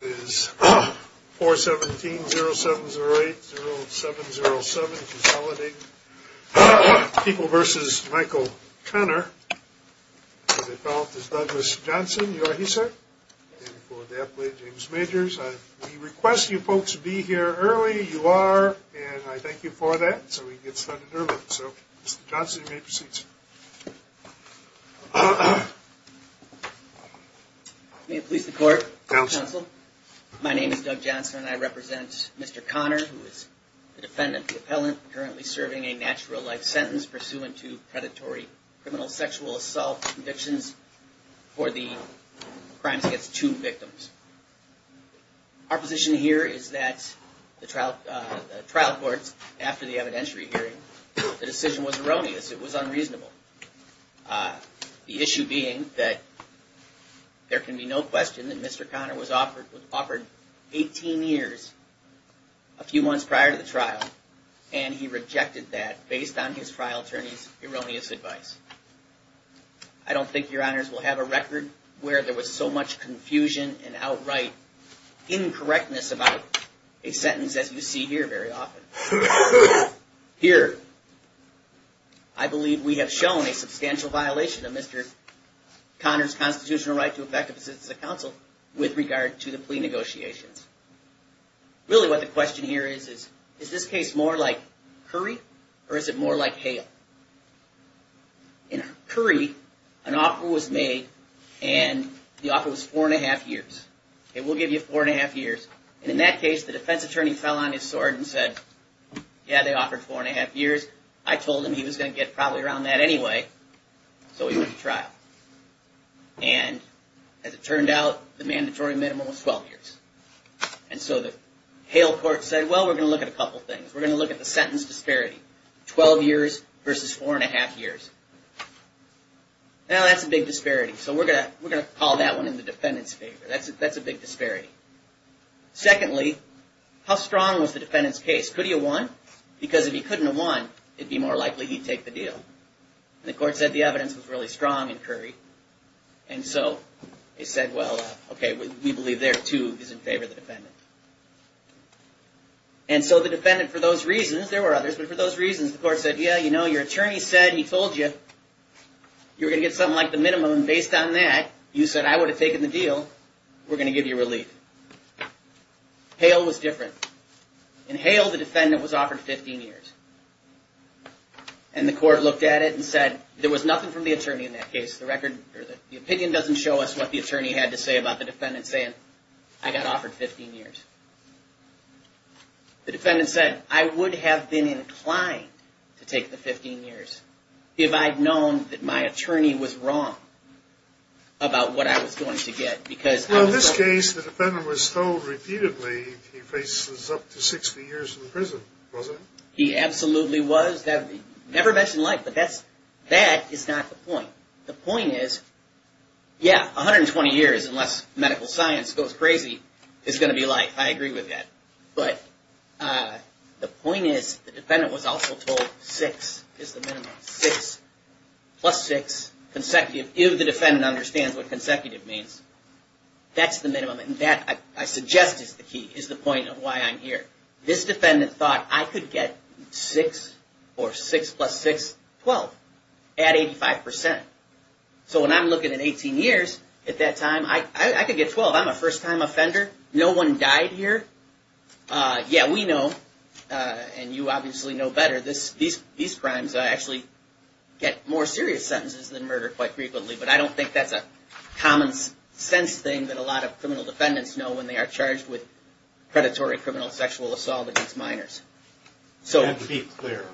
is 417-0708-0707 consolidating. People v. Michael Conner, as I felt, is Douglas Johnson. You are he, sir? And for the athlete, James Majors. We request you folks be here early. You are, and I thank you for that so we can get started early. So, Mr. Johnson, you may proceed, sir. May it please the court, counsel. My name is Doug Johnson and I represent Mr. Conner, who is the defendant, the appellant, currently serving a natural life sentence pursuant to predatory criminal sexual assault convictions for the crimes against two victims. Our position here is that the trial court, after the evidentiary hearing, the decision was erroneous. It was unreasonable. The issue being that there can be no question that Mr. Conner was offered 18 years, a few months prior to the trial, and he rejected that based on his trial attorney's erroneous advice. I don't think your honors will have a record where there was so much confusion and outright incorrectness about a sentence as you see here very often. Here, I believe we have shown a substantial violation of Mr. Conner's constitutional right to effective assistance of counsel with regard to the plea negotiations. Really what the question here is, is this case more like Curry or is it more like Hale? In Curry, an offer was made and the offer was four and a half years. Okay, we'll give you four and a half years. And in that case, the defense attorney fell on his sword and said, yeah, they offered four and a half years. I told him he was going to get probably around that anyway, so he went to trial. And as it turned out, the mandatory minimum was 12 years. And so the Hale court said, well, we're going to look at a couple things. We're going to look at the sentence disparity, 12 years versus four and a half years. Now, that's a big disparity, so we're going to call that one in the defendant's favor. That's a big disparity. Secondly, how strong was the defendant's case? Could he have won? Because if he couldn't have won, it'd be more likely he'd take the deal. And the court said the evidence was really strong in Curry. And so they said, well, okay, we believe there, too, is in favor of the defendant. And so the defendant, for those reasons, there were others, but for those reasons, the court said, yeah, you know, your attorney said, he told you, you're going to get something like the minimum. And based on that, you said, I would have taken the deal. We're going to give you relief. Hale was different. In Hale, the defendant was offered 15 years. And the court looked at it and said, there was nothing from the attorney in that case. The opinion doesn't show us what the attorney had to say about the defendant saying, I got offered 15 years. The defendant said, I would have been inclined to take the 15 years if I'd known that my attorney was wrong about what I was going to get. Well, in this case, the defendant was told repeatedly he faces up to 60 years in prison, wasn't he? He absolutely was. Never mentioned life, but that is not the point. The point is, yeah, 120 years, unless medical science goes crazy, is going to be life. I agree with that. But the point is, the defendant was also told six is the minimum. Six, plus six, consecutive. If the defendant understands what consecutive means, that's the minimum. And that, I suggest, is the key, is the point of why I'm here. This defendant thought I could get six, or six plus six, 12, at 85%. So when I'm looking at 18 years, at that time, I could get 12. I'm a first-time offender. No one died here. Yeah, we know, and you obviously know better, these crimes actually get more serious sentences than murder quite frequently. But I don't think that's a common-sense thing that a lot of criminal defendants know when they are charged with predatory criminal sexual assault against minors. And to be clear,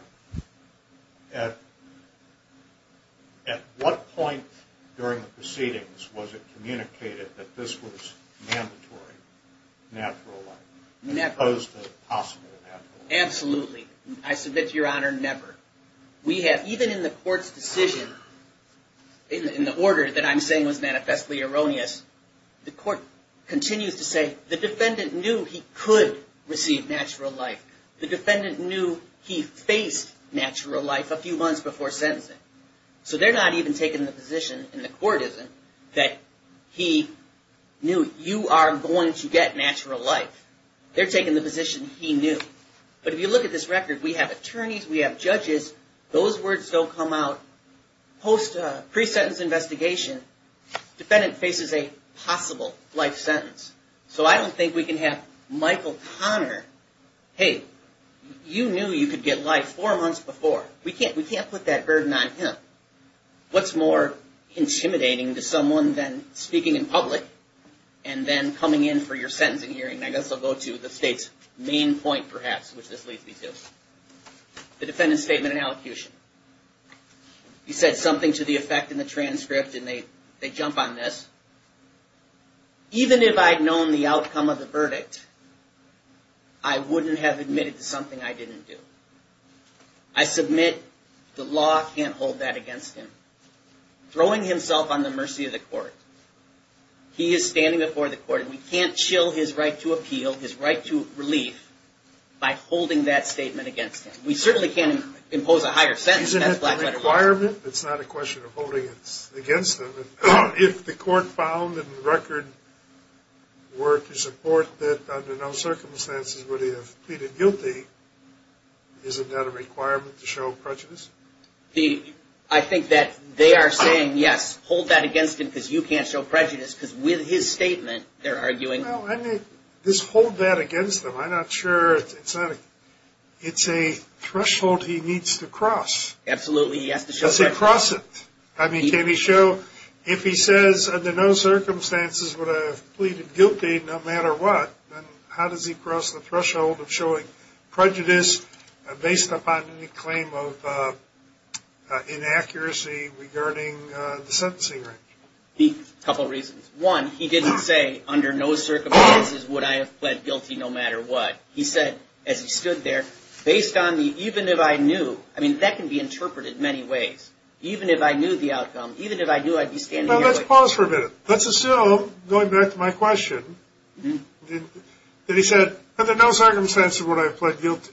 at what point during the proceedings was it communicated that this was mandatory natural life? Never. Opposed to possible natural life. Absolutely. I submit to your honor, never. Even in the court's decision, in the order that I'm saying was manifestly erroneous, the court continues to say the defendant knew he could receive natural life. The defendant knew he faced natural life a few months before sentencing. So they're not even taking the position, and the court isn't, that he knew you are going to get natural life. They're taking the position he knew. But if you look at this record, we have attorneys, we have judges. Those words don't come out. Post-presentence investigation, defendant faces a possible life sentence. So I don't think we can have Michael Connor, hey, you knew you could get life four months before. We can't put that burden on him. What's more intimidating to someone than speaking in public and then coming in for your sentencing hearing? I guess I'll go to the state's main point, perhaps, which this leads me to. The defendant's statement and allocution. He said something to the effect in the transcript, and they jump on this. Even if I'd known the outcome of the verdict, I wouldn't have admitted to something I didn't do. I submit the law can't hold that against him. Throwing himself on the mercy of the court. He is standing before the court, and we can't shill his right to appeal, his right to relief, by holding that statement against him. We certainly can't impose a higher sentence on a black veteran. Isn't that a requirement? It's not a question of holding it against him. If the court found in the record were to support that under no circumstances would he have pleaded guilty, isn't that a requirement to show prejudice? I think that they are saying, yes, hold that against him because you can't show prejudice, because with his statement, they're arguing. Just hold that against him. I'm not sure. It's a threshold he needs to cross. Absolutely, he has to show prejudice. He has to cross it. I mean, can he show, if he says under no circumstances would I have pleaded guilty no matter what, then how does he cross the threshold of showing prejudice based upon any claim of inaccuracy regarding the sentencing range? A couple of reasons. One, he didn't say under no circumstances would I have pled guilty no matter what. He said, as he stood there, based on the even if I knew, I mean, that can be interpreted many ways. Even if I knew the outcome, even if I knew I'd be standing here. Now, let's pause for a minute. Let's assume, going back to my question, that he said under no circumstances would I have pled guilty.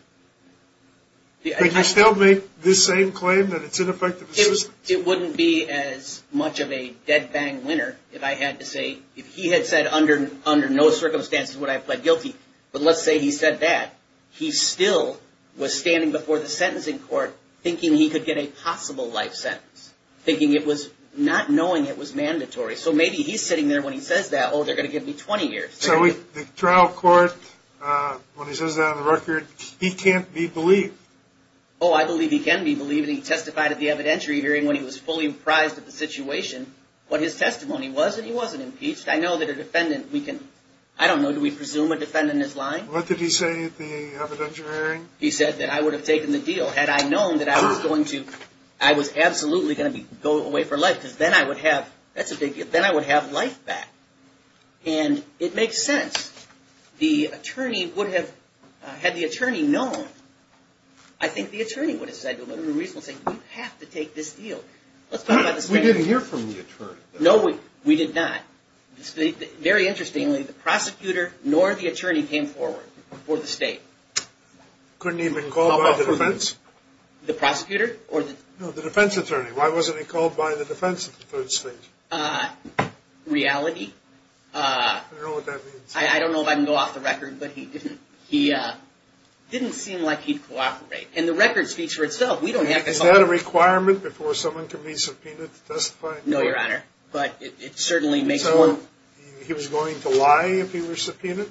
Can you still make this same claim that it's ineffective assistance? It wouldn't be as much of a dead-bang winner if I had to say, if he had said under no circumstances would I have pled guilty, but let's say he said that. He still was standing before the sentencing court thinking he could get a possible life sentence, thinking it was, not knowing it was mandatory. So maybe he's sitting there when he says that, oh, they're going to give me 20 years. So the trial court, when he says that on the record, he can't be believed. Oh, I believe he can be believed, and he testified at the evidentiary hearing when he was fully apprised of the situation, what his testimony was, and he wasn't impeached. I know that a defendant, we can, I don't know, do we presume a defendant is lying? What did he say at the evidentiary hearing? He said that I would have taken the deal had I known that I was going to, I was absolutely going to go away for life because then I would have, that's a big deal, then I would have life back. And it makes sense. The attorney would have, had the attorney known, I think the attorney would have said, there's no reason to say we have to take this deal. We didn't hear from the attorney. No, we did not. Very interestingly, the prosecutor nor the attorney came forward for the state. Couldn't even call off the defense? The prosecutor? No, the defense attorney. Why wasn't he called by the defense of the third state? Reality. I don't know what that means. I don't know if I can go off the record, but he didn't seem like he'd cooperate. And the records feature itself, we don't have to. Is that a requirement before someone can be subpoenaed to testify? No, Your Honor, but it certainly makes one. So he was going to lie if he were subpoenaed?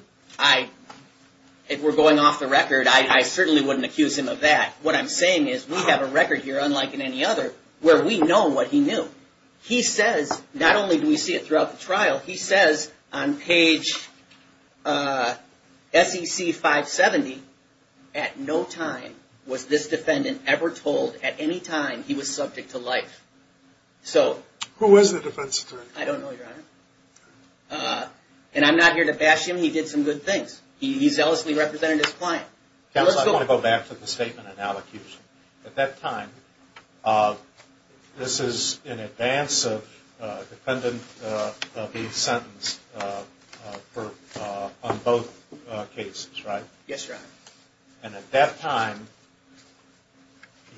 If we're going off the record, I certainly wouldn't accuse him of that. What I'm saying is we have a record here, unlike in any other, where we know what he knew. He says, not only do we see it throughout the trial, he says on page SEC 570, at no time was this defendant ever told at any time he was subject to life. Who was the defense attorney? I don't know, Your Honor. And I'm not here to bash him, he did some good things. He zealously represented his client. Counsel, I want to go back to the statement in allocution. At that time, this is in advance of the defendant being sentenced on both cases, right? Yes, Your Honor. And at that time,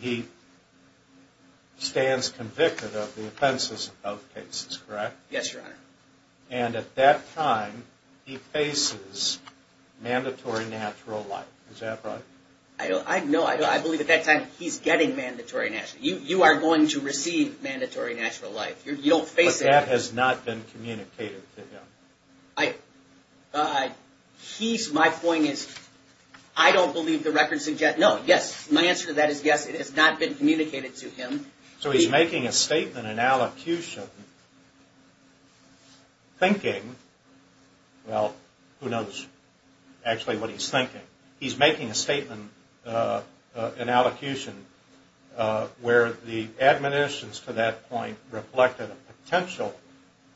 he stands convicted of the offenses in both cases, correct? Yes, Your Honor. And at that time, he faces mandatory natural life. Is that right? No, I believe at that time, he's getting mandatory natural life. You are going to receive mandatory natural life. You don't face it. But that has not been communicated to him. My point is, I don't believe the record suggests, no, yes. My answer to that is yes, it has not been communicated to him. So he's making a statement in allocution thinking, well, who knows actually what he's thinking. He's making a statement in allocution where the admonitions to that point reflected a potential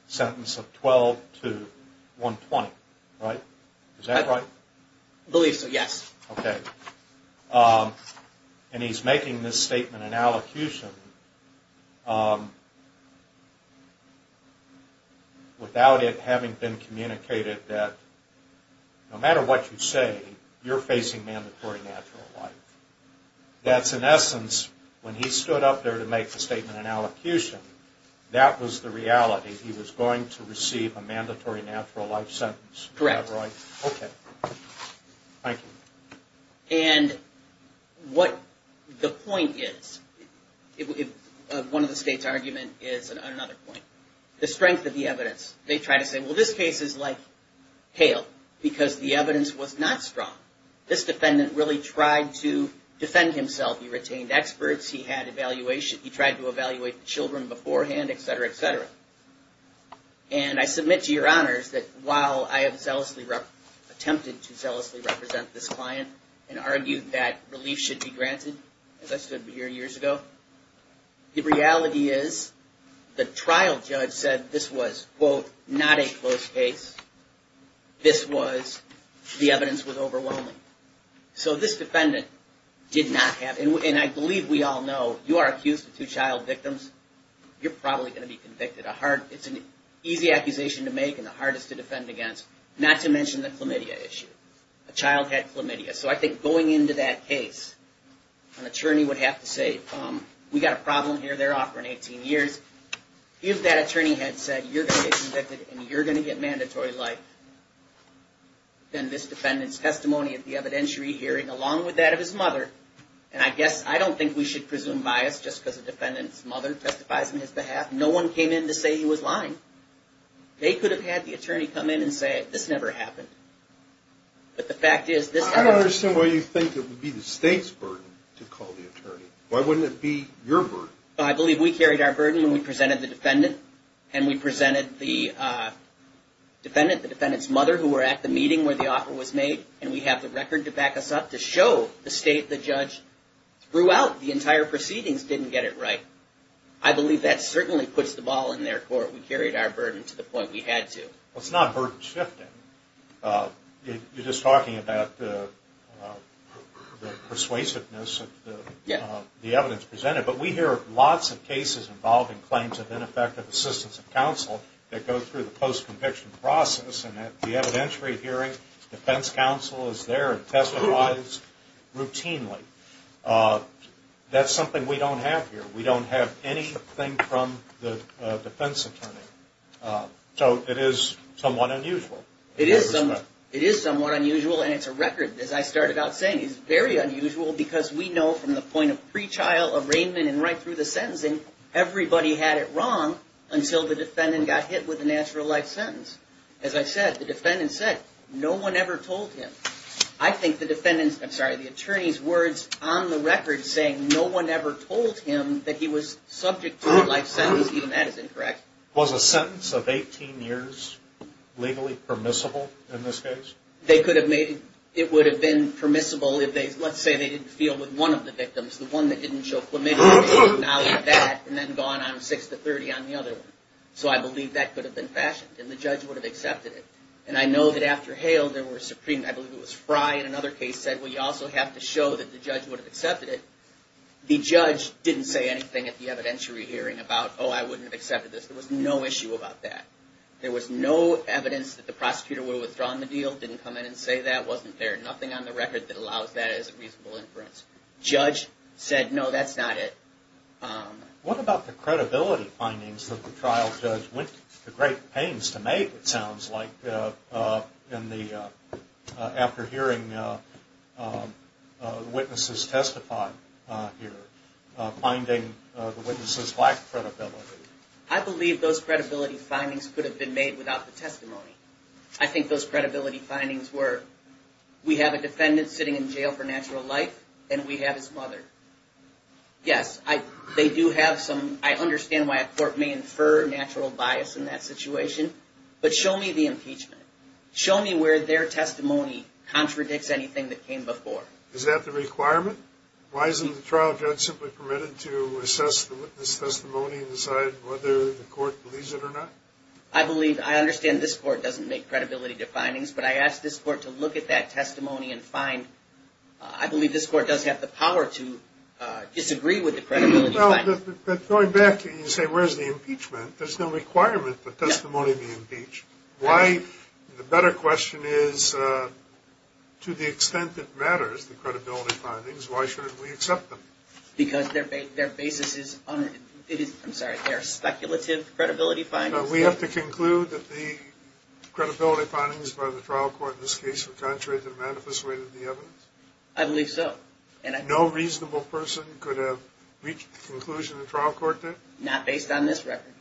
sentence of 12 to 120, right? Is that right? I believe so, yes. Okay. And he's making this statement in allocution without it having been communicated that no matter what you say, you're facing mandatory natural life. That's, in essence, when he stood up there to make the statement in allocution, that was the reality. He was going to receive a mandatory natural life sentence. Correct. Is that right? Okay. Thank you. And what the point is, one of the state's arguments is another point, the strength of the evidence. They try to say, well, this case is like hail because the evidence was not strong. This defendant really tried to defend himself. He retained experts. He had evaluation. And I submit to your honors that while I have zealously attempted to zealously represent this client and argued that relief should be granted, as I stood here years ago, the reality is the trial judge said this was, quote, not a close case. This was, the evidence was overwhelming. So this defendant did not have, and I believe we all know, you are accused of two child victims. You're probably going to be convicted. It's an easy accusation to make and the hardest to defend against, not to mention the chlamydia issue. A child had chlamydia. So I think going into that case, an attorney would have to say, we've got a problem here, they're off for 18 years. If that attorney had said you're going to get convicted and you're going to get mandatory life, then this defendant's testimony at the evidentiary hearing, along with that of his mother, and I guess I don't think we should presume bias just because the defendant's mother testifies on his behalf. No one came in to say he was lying. They could have had the attorney come in and say, this never happened. But the fact is, this happened. I don't understand why you think it would be the state's burden to call the attorney. Why wouldn't it be your burden? I believe we carried our burden when we presented the defendant. And we presented the defendant, the defendant's mother, who were at the meeting where the offer was made. And we have the record to back us up to show the state, the judge, throughout the entire proceedings didn't get it right. I believe that certainly puts the ball in their court. We carried our burden to the point we had to. Well, it's not burden shifting. You're just talking about the persuasiveness of the evidence presented. But we hear lots of cases involving claims of ineffective assistance of counsel that go through the post-conviction process. And at the evidentiary hearing, the defense counsel is there and testifies routinely. That's something we don't have here. We don't have anything from the defense attorney. So it is somewhat unusual. It is somewhat unusual. And it's a record, as I started out saying. It's very unusual because we know from the point of pre-trial arraignment and right through the sentencing, everybody had it wrong until the defendant got hit with a natural life sentence. As I said, the defendant said no one ever told him. I think the defendant's, I'm sorry, the attorney's words on the record saying no one ever told him that he was subject to a life sentence, even that is incorrect. Was a sentence of 18 years legally permissible in this case? They could have made, it would have been permissible if they, let's say they didn't feel with one of the victims, the one that didn't show and then gone on 6 to 30 on the other one. So I believe that could have been fashioned and the judge would have accepted it. And I know that after Hale, there were Supreme, I believe it was Fry in another case said, well, you also have to show that the judge would have accepted it. The judge didn't say anything at the evidentiary hearing about, oh, I wouldn't have accepted this. There was no issue about that. There was no evidence that the prosecutor would have withdrawn the deal, didn't come in and say that, wasn't there. Nothing on the record that allows that as a reasonable inference. Judge said, no, that's not it. What about the credibility findings that the trial judge went to great pains to make, it sounds like, after hearing the witnesses testify here, finding the witnesses lacked credibility? I believe those credibility findings could have been made without the testimony. I think those credibility findings were, we have a defendant sitting in jail for natural life and we have his mother. Yes, they do have some, I understand why a court may infer natural bias in that situation, but show me the impeachment. Show me where their testimony contradicts anything that came before. Is that the requirement? Why isn't the trial judge simply permitted to assess the witness testimony and decide whether the court believes it or not? I believe, I understand this court doesn't make credibility definings, but I ask this court to look at that testimony and find, I believe this court does have the power to disagree with the credibility findings. Going back, you say, where's the impeachment? There's no requirement for testimony to be impeached. The better question is, to the extent it matters, the credibility findings, why shouldn't we accept them? Because their basis is, I'm sorry, their speculative credibility findings. We have to conclude that the credibility findings by the trial court in this case were contrary to the manifest way of the evidence? I believe so. No reasonable person could have reached the conclusion the trial court did? Not based on this record.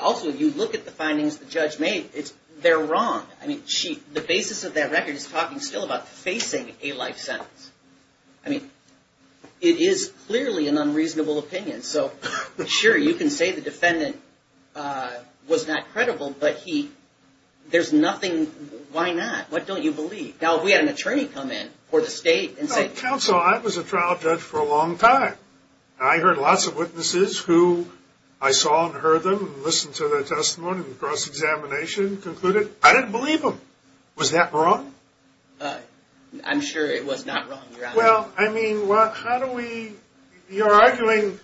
Also, you look at the findings the judge made. They're wrong. The basis of that record is talking still about facing a life sentence. I mean, it is clearly an unreasonable opinion. So, sure, you can say the defendant was not credible, but there's nothing, why not? What don't you believe? Now, if we had an attorney come in, or the state, and say- Counsel, I was a trial judge for a long time. I heard lots of witnesses who I saw and heard them, and listened to their testimony, and cross-examination, and concluded, I didn't believe them. Was that wrong? I'm sure it was not wrong, Your Honor. Well, I mean, how do we- You're arguing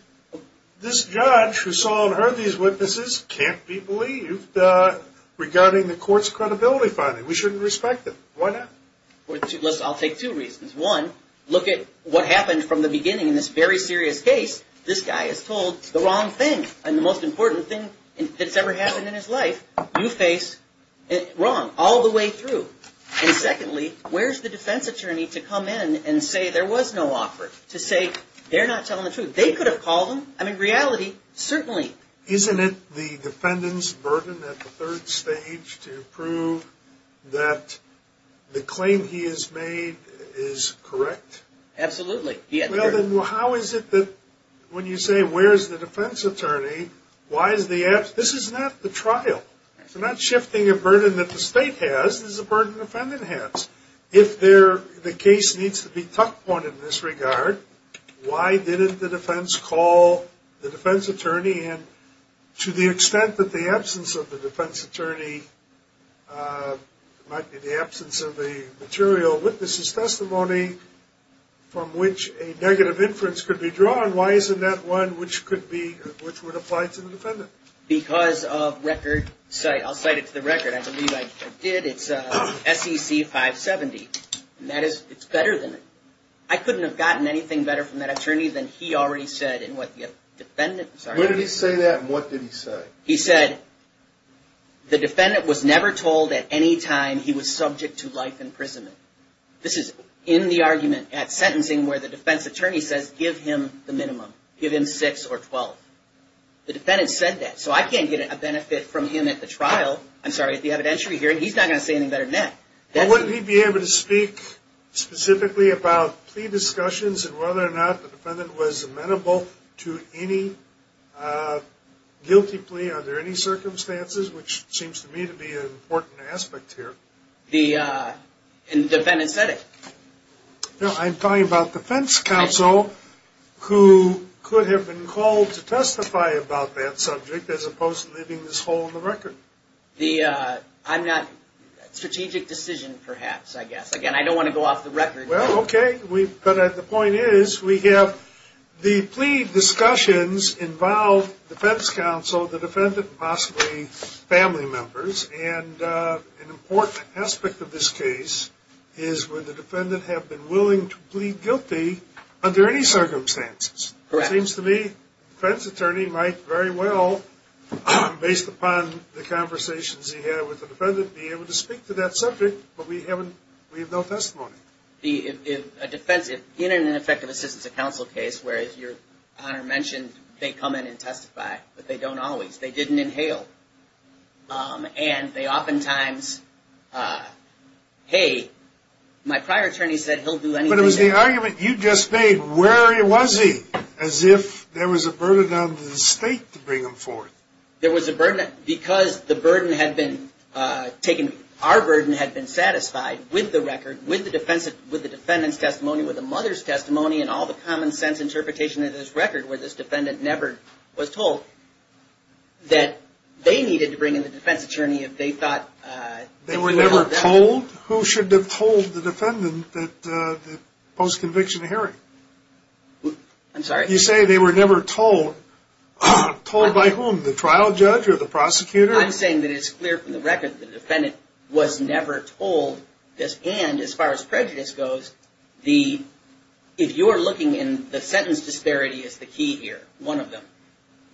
this judge who saw and heard these witnesses can't be believed regarding the court's credibility findings. We shouldn't respect them. Why not? I'll take two reasons. One, look at what happened from the beginning in this very serious case. This guy is told the wrong thing, and the most important thing that's ever happened in his life. You face wrong all the way through. And secondly, where's the defense attorney to come in and say there was no offer? To say they're not telling the truth. They could have called him. I mean, reality, certainly. Isn't it the defendant's burden at the third stage to prove that the claim he has made is correct? Absolutely. Well, then how is it that when you say where's the defense attorney, why is the- This is not the trial. We're not shifting a burden that the state has. This is a burden the defendant has. If the case needs to be tucked on in this regard, why didn't the defense call the defense attorney? And to the extent that the absence of the defense attorney might be the absence of the material witnesses' testimony from which a negative inference could be drawn, why isn't that one which would apply to the defendant? Because of record- I'll cite it to the record. I believe I did. It's SEC 570. And that is- it's better than- I couldn't have gotten anything better from that attorney than he already said and what the defendants- When did he say that and what did he say? He said the defendant was never told at any time he was subject to life imprisonment. This is in the argument at sentencing where the defense attorney says give him the minimum. Give him 6 or 12. The defendant said that. So I can't get a benefit from him at the trial. I'm sorry, at the evidentiary hearing. He's not going to say anything better than that. Well, wouldn't he be able to speak specifically about plea discussions and whether or not the defendant was amenable to any guilty plea under any circumstances, which seems to me to be an important aspect here. The- and the defendant said it. I'm talking about defense counsel who could have been called to testify about that subject as opposed to leaving this hole in the record. The- I'm not- strategic decision, perhaps, I guess. Again, I don't want to go off the record. Well, okay. But the point is we have the plea discussions involve defense counsel, the defendant, and possibly family members. And an important aspect of this case is would the defendant have been willing to plead guilty under any circumstances? Correct. It seems to me the defense attorney might very well, based upon the conversations he had with the defendant, be able to speak to that subject, but we haven't- we have no testimony. The- a defense- in an effective assistance of counsel case where, as your Honor mentioned, they come in and testify, but they don't always. They didn't inhale. And they oftentimes, hey, my prior attorney said he'll do anything. But it was the argument you just made, where was he? As if there was a burden on the state to bring him forth. There was a burden because the burden had been taken- our burden had been satisfied with the record, with the defendant's testimony, with the mother's testimony, and all the common sense interpretation of this record where this defendant never was told, that they needed to bring in the defense attorney if they thought- They were never told? Who should have told the defendant that the post-conviction hearing? I'm sorry? You say they were never told. Told by whom? The trial judge or the prosecutor? I'm saying that it's clear from the record the defendant was never told this. And as far as prejudice goes, if you're looking in- the sentence disparity is the key here. One of them.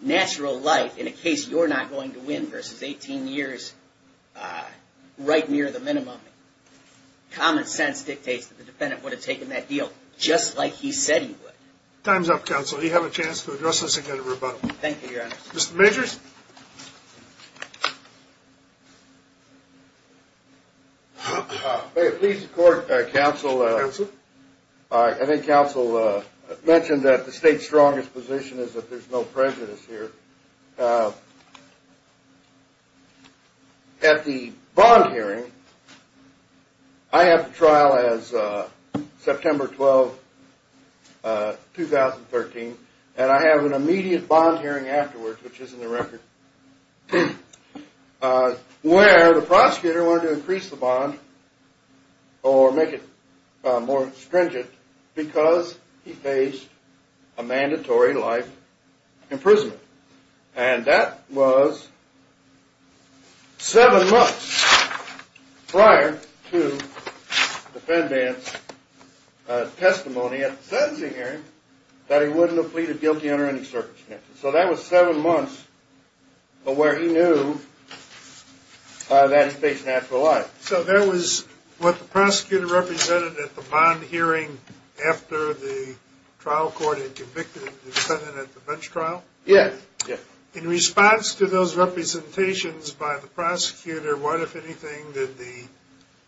Natural life in a case you're not going to win versus 18 years right near the minimum. Common sense dictates that the defendant would have taken that deal just like he said he would. Time's up, counsel. You have a chance to address this and get a rebuttal. Thank you, Your Honor. Mr. Majors? Thank you. Please support, counsel- Counsel? I think counsel mentioned that the state's strongest position is that there's no prejudice here. At the bond hearing, I have the trial as September 12, 2013, and I have an immediate bond hearing afterwards, which is in the record, where the prosecutor wanted to increase the bond or make it more stringent because he faced a mandatory life imprisonment. And that was seven months prior to the defendant's testimony at the sentencing hearing that he wouldn't have pleaded guilty under any circumstances. So that was seven months of where he knew that he faced natural life. So that was what the prosecutor represented at the bond hearing after the trial court had convicted the defendant at the bench trial? Yes. In response to those representations by the prosecutor, what, if anything, did the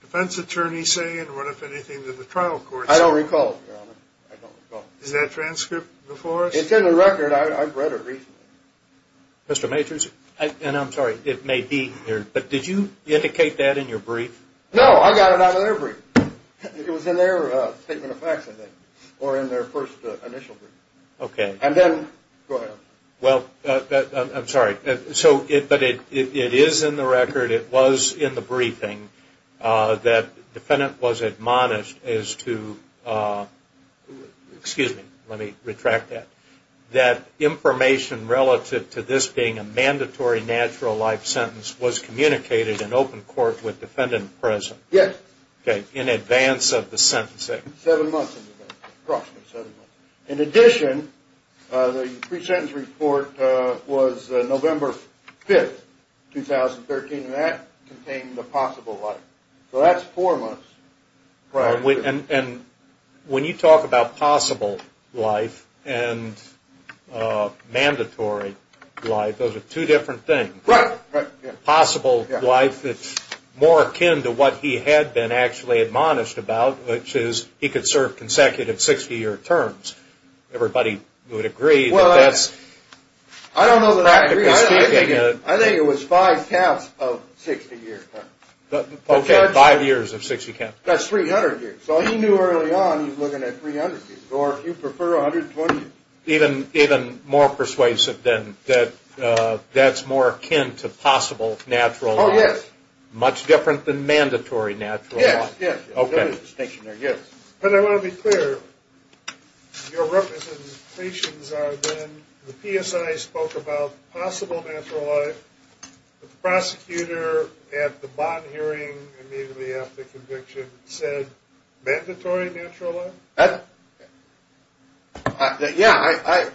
defense attorney say, and what, if anything, did the trial court say? I don't recall, Your Honor. I don't recall. Is that transcript before us? It's in the record. I've read it recently. Mr. Majors? And I'm sorry, it may be here, but did you indicate that in your brief? No, I got it out of their brief. It was in their statement of facts, I think, or in their first initial brief. Okay. And then, go ahead. Well, I'm sorry, but it is in the record, it was in the briefing, that the defendant was admonished as to, excuse me, let me retract that, that information relative to this being a mandatory natural life sentence was communicated in open court with the defendant in prison? Yes. Okay, in advance of the sentencing. Seven months in advance, approximately seven months. In addition, the pre-sentence report was November 5th, 2013, and that contained the possible life. So that's four months. Right. And when you talk about possible life and mandatory life, those are two different things. Right. Possible life, it's more akin to what he had been actually admonished about, which is he could serve consecutive 60-year terms. Everybody would agree that that's practically speaking. Well, I don't know that I agree. I think it was five counts of 60-year terms. Okay, five years of 60 counts. That's 300 years. So he knew early on he was looking at 300 years, or if you prefer, 120 years. Even more persuasive then, that that's more akin to possible natural life. Oh, yes. Much different than mandatory natural life. Yes. There is a distinction there. Yes. But I want to be clear. Your representations are then the PSI spoke about possible natural life, but the prosecutor at the bond hearing immediately after conviction said mandatory natural life? Yeah.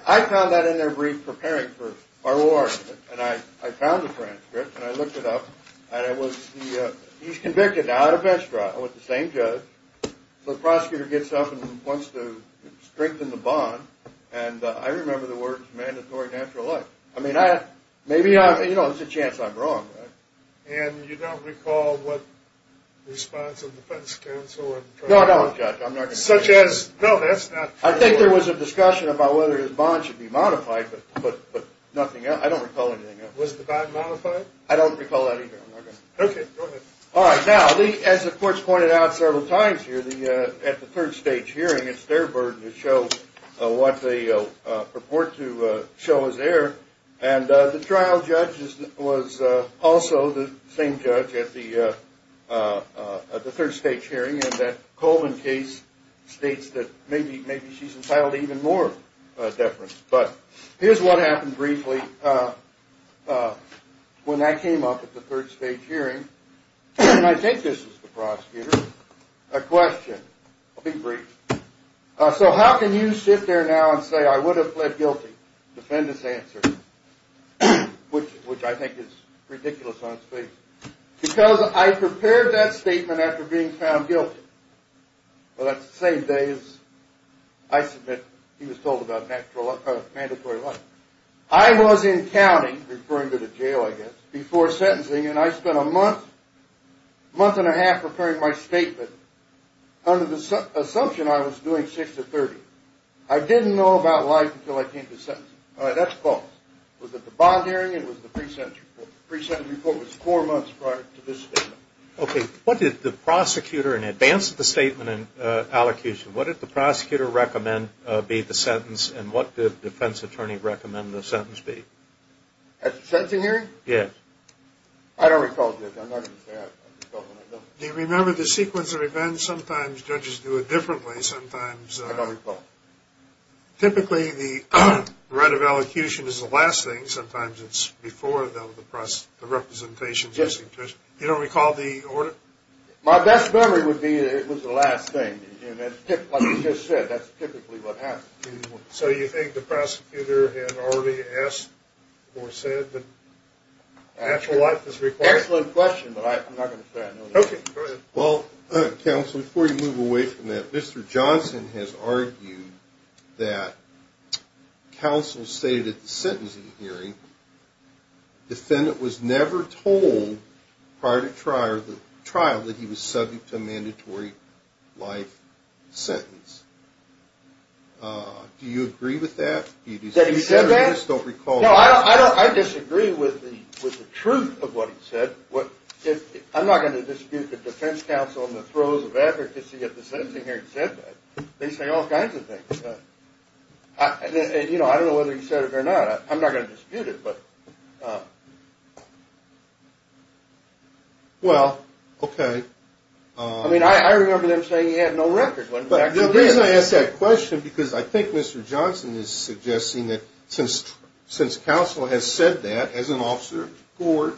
I found that in their brief preparing for our war, and I found the transcript, and I looked it up, and he's convicted now at a bench trial with the same judge. So the prosecutor gets up and wants to strengthen the bond, and I remember the words mandatory natural life. I mean, maybe there's a chance I'm wrong. And you don't recall what response of the defense counsel? No, no. Such as? No, that's not true. I think there was a discussion about whether his bond should be modified, but nothing else. I don't recall anything else. Was the bond modified? I don't recall anything. Okay. Go ahead. All right. Now, as the courts pointed out several times here, at the third stage hearing, it's their burden to show what they purport to show as error, and the trial judge was also the same judge at the third stage hearing, and that Coleman case states that maybe she's entitled to even more deference. But here's what happened briefly. When that came up at the third stage hearing, and I think this is the prosecutor, a question, I'll be brief. So how can you sit there now and say I would have pled guilty? Defendant's answer, which I think is ridiculous on its face. Because I prepared that statement after being found guilty. Well, that's the same day as I submit he was told about mandatory life. I was in county, referring to the jail, I guess, before sentencing, and I spent a month, month and a half, preparing my statement, under the assumption I was doing 6 to 30. I didn't know about life until I came to sentencing. All right, that's false. Was it the bond hearing? It was the pre-sentence report. The pre-sentence report was four months prior to this statement. Okay. What did the prosecutor, in advance of the statement and allocution, what did the prosecutor recommend be the sentence, and what did the defense attorney recommend the sentence be? At the sentencing hearing? Yes. I don't recall, Judge. I'm not going to say it. Do you remember the sequence of events? Sometimes judges do it differently. I don't recall. Typically, the right of allocution is the last thing. Sometimes it's before the representations. You don't recall the order? My best memory would be that it was the last thing. Like you just said, that's typically what happens. So you think the prosecutor had already asked or said that natural life was required? Excellent question, but I'm not going to say I know the answer. Okay, go ahead. Well, counsel, before you move away from that, Mr. Johnson has argued that counsel stated at the sentencing hearing defendant was never told prior to trial that he was subject to a mandatory life sentence. Do you agree with that? Did he say that? I disagree with the truth of what he said. I'm not going to dispute the defense counsel in the throes of advocacy at the sentencing hearing said that. They say all kinds of things. I don't know whether he said it or not. I'm not going to dispute it. Well, okay. I mean, I remember them saying he had no record. But the reason I ask that question, because I think Mr. Johnson is suggesting that since counsel has said that, as an officer of the court,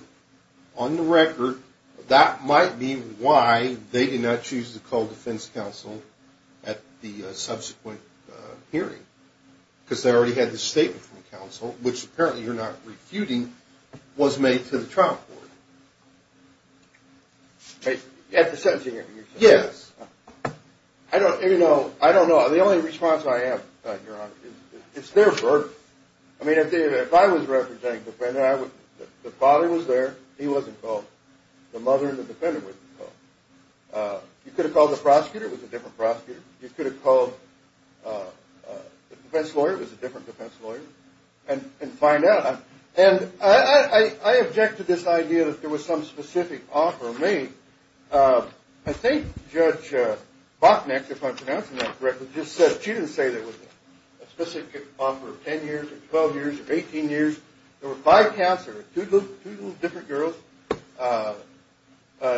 on the record, that might be why they did not choose to call defense counsel at the subsequent hearing, because they already had the statement from counsel, which apparently you're not refuting, was made to the trial court. At the sentencing hearing? Yes. I don't know. The only response I have, Your Honor, is therefore, I mean, if I was representing the defendant, the father was there. He wasn't called. The mother and the defendant wasn't called. You could have called the prosecutor. It was a different prosecutor. You could have called the defense lawyer. It was a different defense lawyer, and find out. And I object to this idea that there was some specific offer made. I think Judge Boknek, if I'm pronouncing that correctly, just said she didn't say there was a specific offer of 10 years or 12 years or 18 years. There were five counselors, two different girls.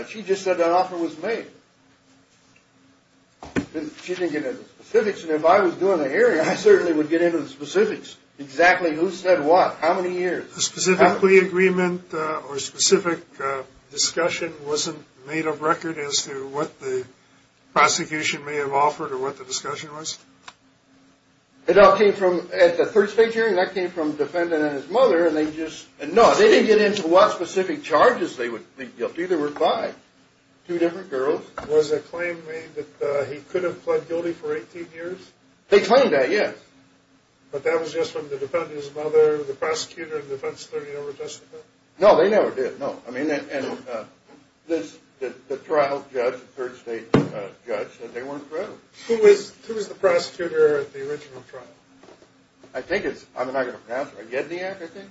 She just said that offer was made. She didn't get into the specifics. And if I was doing the hearing, I certainly would get into the specifics, exactly who said what, how many years. A specific plea agreement or specific discussion wasn't made of record as to what the prosecution may have offered or what the discussion was? It all came from at the first state hearing. That came from the defendant and his mother, and they just – no, they didn't get into what specific charges they would be guilty. There were five, two different girls. Was the claim made that he could have pled guilty for 18 years? They claimed that, yes. But that was just from the defendant's mother, the prosecutor, and the defense attorney that were testifying? No, they never did, no. I mean, the trial judge, the third state judge, said they weren't proud. Who was the prosecutor at the original trial? I think it's – I'm not going to pronounce it. Yedniak, I think.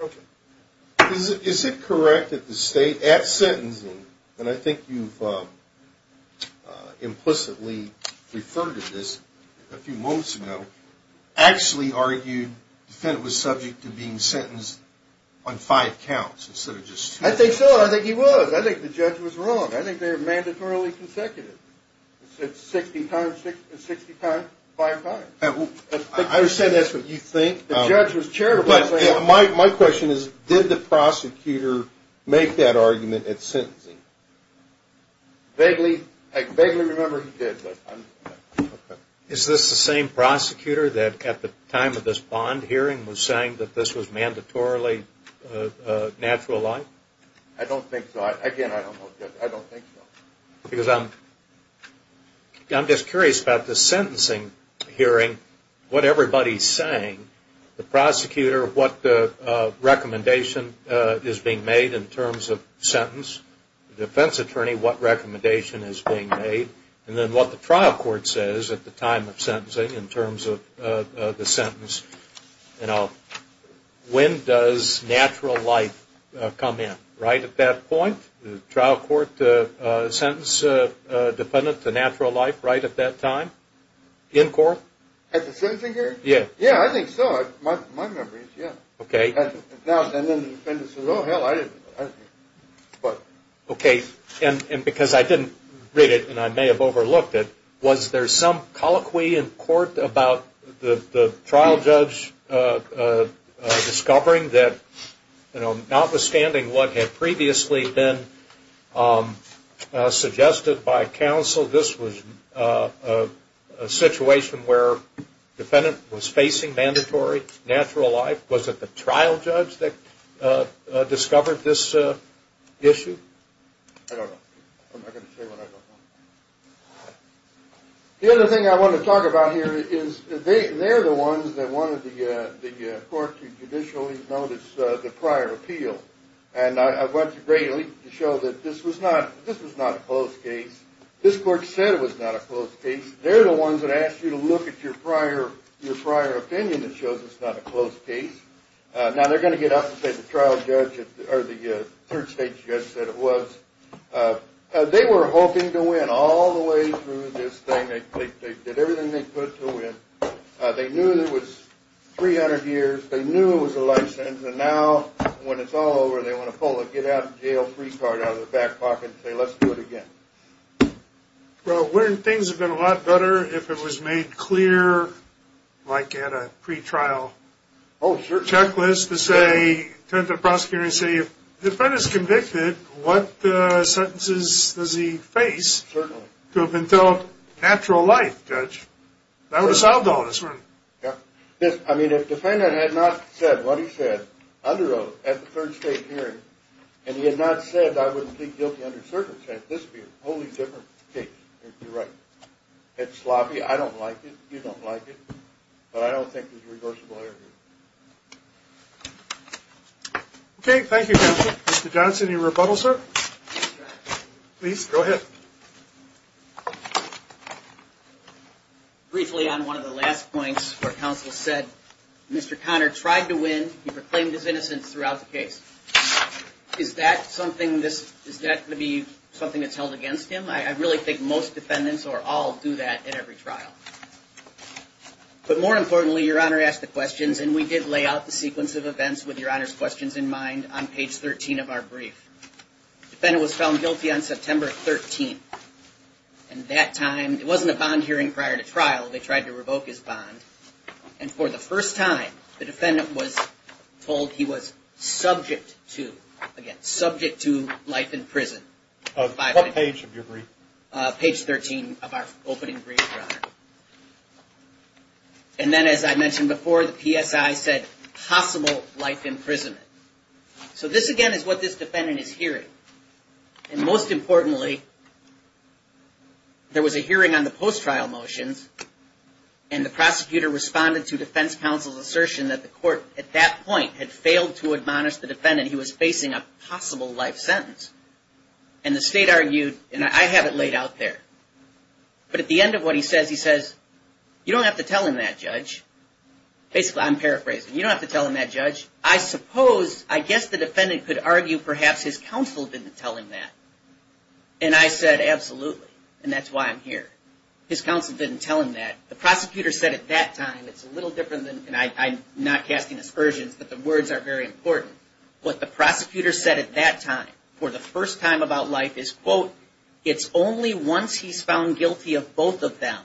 Okay. Is it correct that the state, at sentencing, and I think you've implicitly referred to this a few moments ago, actually argued the defendant was subject to being sentenced on five counts instead of just two? I think so. I think he was. I think the judge was wrong. I think they were mandatorily consecutive. It said 60 times, five times. I understand that's what you think. The judge was terrible. My question is, did the prosecutor make that argument at sentencing? Vaguely. I vaguely remember he did. Is this the same prosecutor that, at the time of this bond hearing, was saying that this was mandatorily natural law? I don't think so. Again, I don't know. I don't think so. I'm just curious about this sentencing hearing, what everybody's saying. The prosecutor, what recommendation is being made in terms of sentence. The defense attorney, what recommendation is being made. And then what the trial court says at the time of sentencing in terms of the sentence. When does natural life come in? Right at that point? The trial court sentence dependent to natural life right at that time? In court? At the sentencing hearing? Yeah. Yeah, I think so. My memory is, yeah. Okay. And then the defendant says, oh, hell, I didn't. Okay. And because I didn't read it and I may have overlooked it, was there some colloquy in court about the trial judge discovering that, you know, notwithstanding what had previously been suggested by counsel, this was a situation where the defendant was facing mandatory natural life? Was it the trial judge that discovered this issue? I don't know. I'm not going to say what I don't know. The other thing I want to talk about here is they're the ones that wanted the court to judicially notice the prior appeal. And I went to Grayley to show that this was not a closed case. This court said it was not a closed case. They're the ones that asked you to look at your prior opinion that shows it's not a closed case. Now, they're going to get up and say the trial judge or the third stage judge said it was. They were hoping to win all the way through this thing. They did everything they could to win. They knew it was 300 years. They knew it was a life sentence. And now, when it's all over, they want to pull a get out of jail free card out of their back pocket and say let's do it again. Well, wouldn't things have been a lot better if it was made clear like at a pretrial checklist to say, turn to the prosecutor and say, if the defendant is convicted, what sentences does he face? Certainly. To have been dealt natural life, judge. That would have solved all this, wouldn't it? Yeah. I mean, if the defendant had not said what he said under oath at the third stage hearing, and he had not said I wouldn't plead guilty under circumstance, this would be a wholly different case. You're right. It's sloppy. I don't like it. You don't like it. But I don't think there's a reversible error here. Okay. Thank you, counsel. Mr. Johnson, your rebuttal, sir. Please, go ahead. Briefly on one of the last points where counsel said Mr. Conner tried to win. He proclaimed his innocence throughout the case. Is that going to be something that's held against him? I really think most defendants, or all, do that at every trial. But more importantly, your Honor asked the questions, and we did lay out the sequence of events with your Honor's questions in mind on page 13 of our brief. The defendant was found guilty on September 13th. And that time, it wasn't a bond hearing prior to trial. They tried to revoke his bond. And for the first time, the defendant was told he was subject to, again, subject to life in prison. What page of your brief? Page 13 of our opening brief, your Honor. And then, as I mentioned before, the PSI said possible life imprisonment. So this, again, is what this defendant is hearing. And most importantly, there was a hearing on the post-trial motions. And the prosecutor responded to defense counsel's assertion that the court, at that point, had failed to admonish the defendant he was facing a possible life sentence. And the State argued, and I have it laid out there. But at the end of what he says, he says, you don't have to tell him that, Judge. Basically, I'm paraphrasing. You don't have to tell him that, Judge. I suppose, I guess the defendant could argue perhaps his counsel didn't tell him that. And I said, absolutely. And that's why I'm here. His counsel didn't tell him that. The prosecutor said at that time, it's a little different than, and I'm not casting aspersions, but the words are very important. What the prosecutor said at that time, for the first time about life, is, quote, it's only once he's found guilty of both of them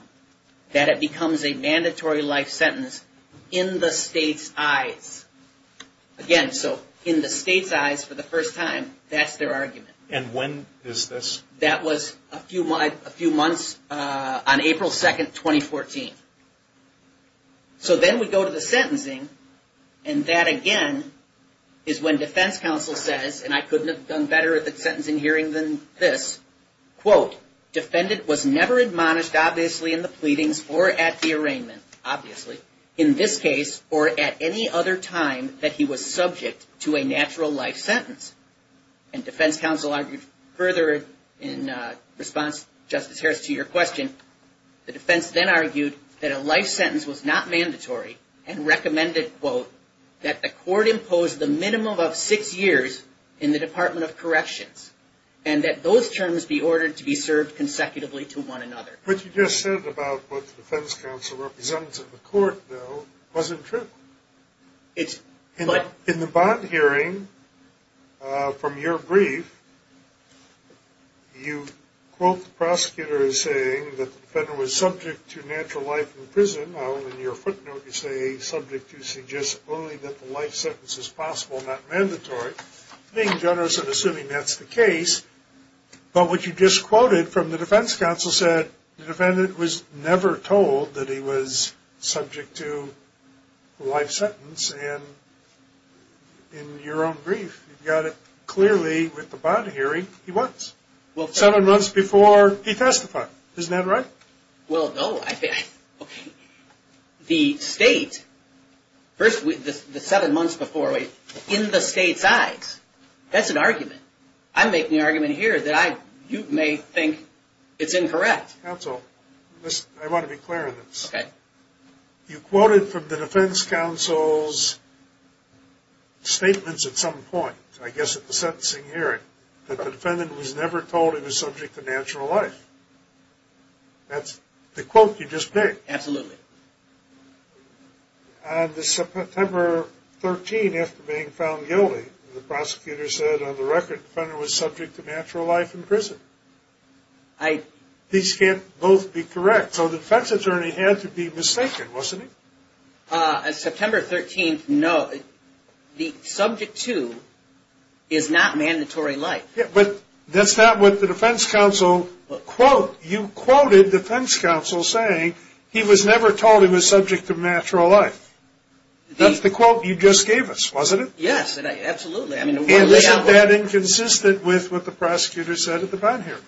that it becomes a mandatory life sentence in the State's eyes. Again, so in the State's eyes for the first time, that's their argument. And when is this? That was a few months on April 2, 2014. So then we go to the sentencing. And that, again, is when defense counsel says, and I couldn't have done better at the sentencing hearing than this, quote, defendant was never admonished, obviously, in the pleadings or at the arraignment, obviously, in this case, or at any other time that he was subject to a natural life sentence. And defense counsel argued further in response, Justice Harris, to your question. The defense then argued that a life sentence was not mandatory and recommended, quote, that the court impose the minimum of six years in the Department of Corrections and that those terms be ordered to be served consecutively to one another. What you just said about what the defense counsel represented in the court, though, wasn't true. In the bond hearing, from your brief, you quote the prosecutor as saying that the defendant was subject to natural life in prison. Now, in your footnote, you say subject to suggest only that the life sentence is possible, not mandatory, being generous in assuming that's the case. But what you just quoted from the defense counsel said the defendant was never told that he was subject to a life sentence. And in your own brief, you've got it clearly with the bond hearing, he was. Seven months before he testified. Isn't that right? Well, no. The state, the seven months before, in the state's eyes, that's an argument. I'm making the argument here that you may think it's incorrect. Counsel, I want to be clear on this. Okay. You quoted from the defense counsel's statements at some point, I guess at the sentencing hearing, that the defendant was never told he was subject to natural life. That's the quote you just made. Absolutely. On September 13, after being found guilty, These can't both be correct. So the defense attorney had to be mistaken, wasn't he? On September 13, no. The subject to is not mandatory life. But that's not what the defense counsel quote. You quoted the defense counsel saying he was never told he was subject to natural life. That's the quote you just gave us, wasn't it? Yes, absolutely. Isn't that inconsistent with what the prosecutor said at the bond hearing?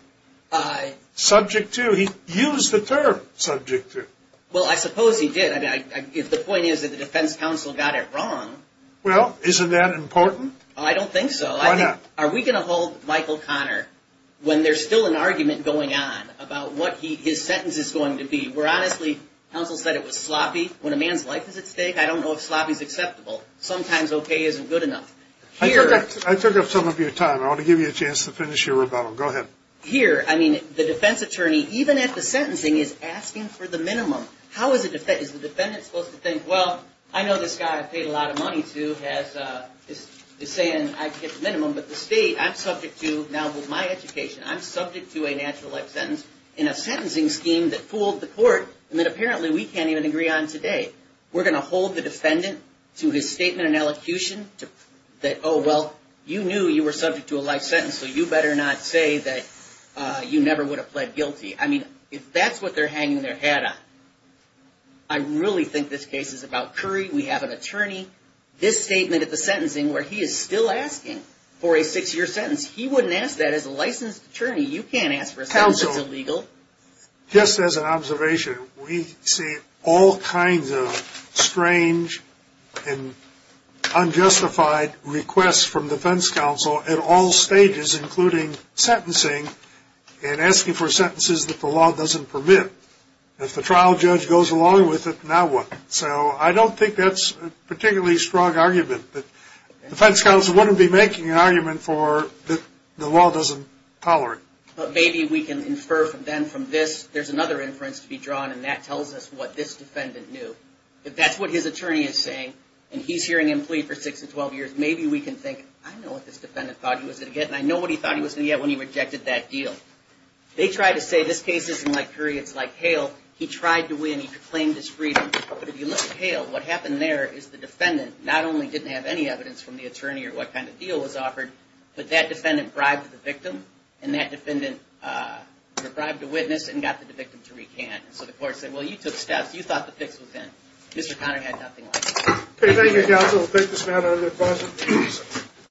Subject to. He used the term subject to. Well, I suppose he did. The point is that the defense counsel got it wrong. Well, isn't that important? I don't think so. Why not? Are we going to hold Michael Connor when there's still an argument going on about what his sentence is going to be? Where honestly, counsel said it was sloppy. When a man's life is at stake, I don't know if sloppy is acceptable. Sometimes okay isn't good enough. I took up some of your time. I want to give you a chance to finish your rebuttal. Go ahead. Here, I mean, the defense attorney, even at the sentencing, is asking for the minimum. How is the defendant supposed to think, well, I know this guy I paid a lot of money to is saying I get the minimum. But the state, I'm subject to, now with my education, I'm subject to a natural life sentence in a sentencing scheme that fooled the court and that apparently we can't even agree on today. We're going to hold the defendant to his statement and elocution that, oh, well, you knew you were subject to a life sentence, so you better not say that you never would have pled guilty. I mean, if that's what they're hanging their hat on, I really think this case is about Curry. We have an attorney. This statement at the sentencing where he is still asking for a six-year sentence, he wouldn't ask that as a licensed attorney. You can't ask for a sentence that's illegal. Just as an observation, we see all kinds of strange and unjustified requests from defense counsel at all stages, including sentencing and asking for sentences that the law doesn't permit. If the trial judge goes along with it, now what? So I don't think that's a particularly strong argument. The defense counsel wouldn't be making an argument that the law doesn't tolerate. But maybe we can infer then from this, there's another inference to be drawn, and that tells us what this defendant knew. If that's what his attorney is saying, and he's hearing him plead for six to 12 years, maybe we can think, I know what this defendant thought he was going to get, and I know what he thought he was going to get when he rejected that deal. They try to say this case isn't like Curry, it's like Hale. He tried to win. He proclaimed his freedom. But if you look at Hale, what happened there is the defendant not only didn't have any evidence from the attorney or what kind of deal was offered, but that defendant bribed the victim, and that defendant bribed the witness and got the victim to recant. So the court said, well, you took steps. You thought the fix was in. Mr. Conner had nothing like that. Okay, thank you, counsel. Thank you, Samantha. Any other questions?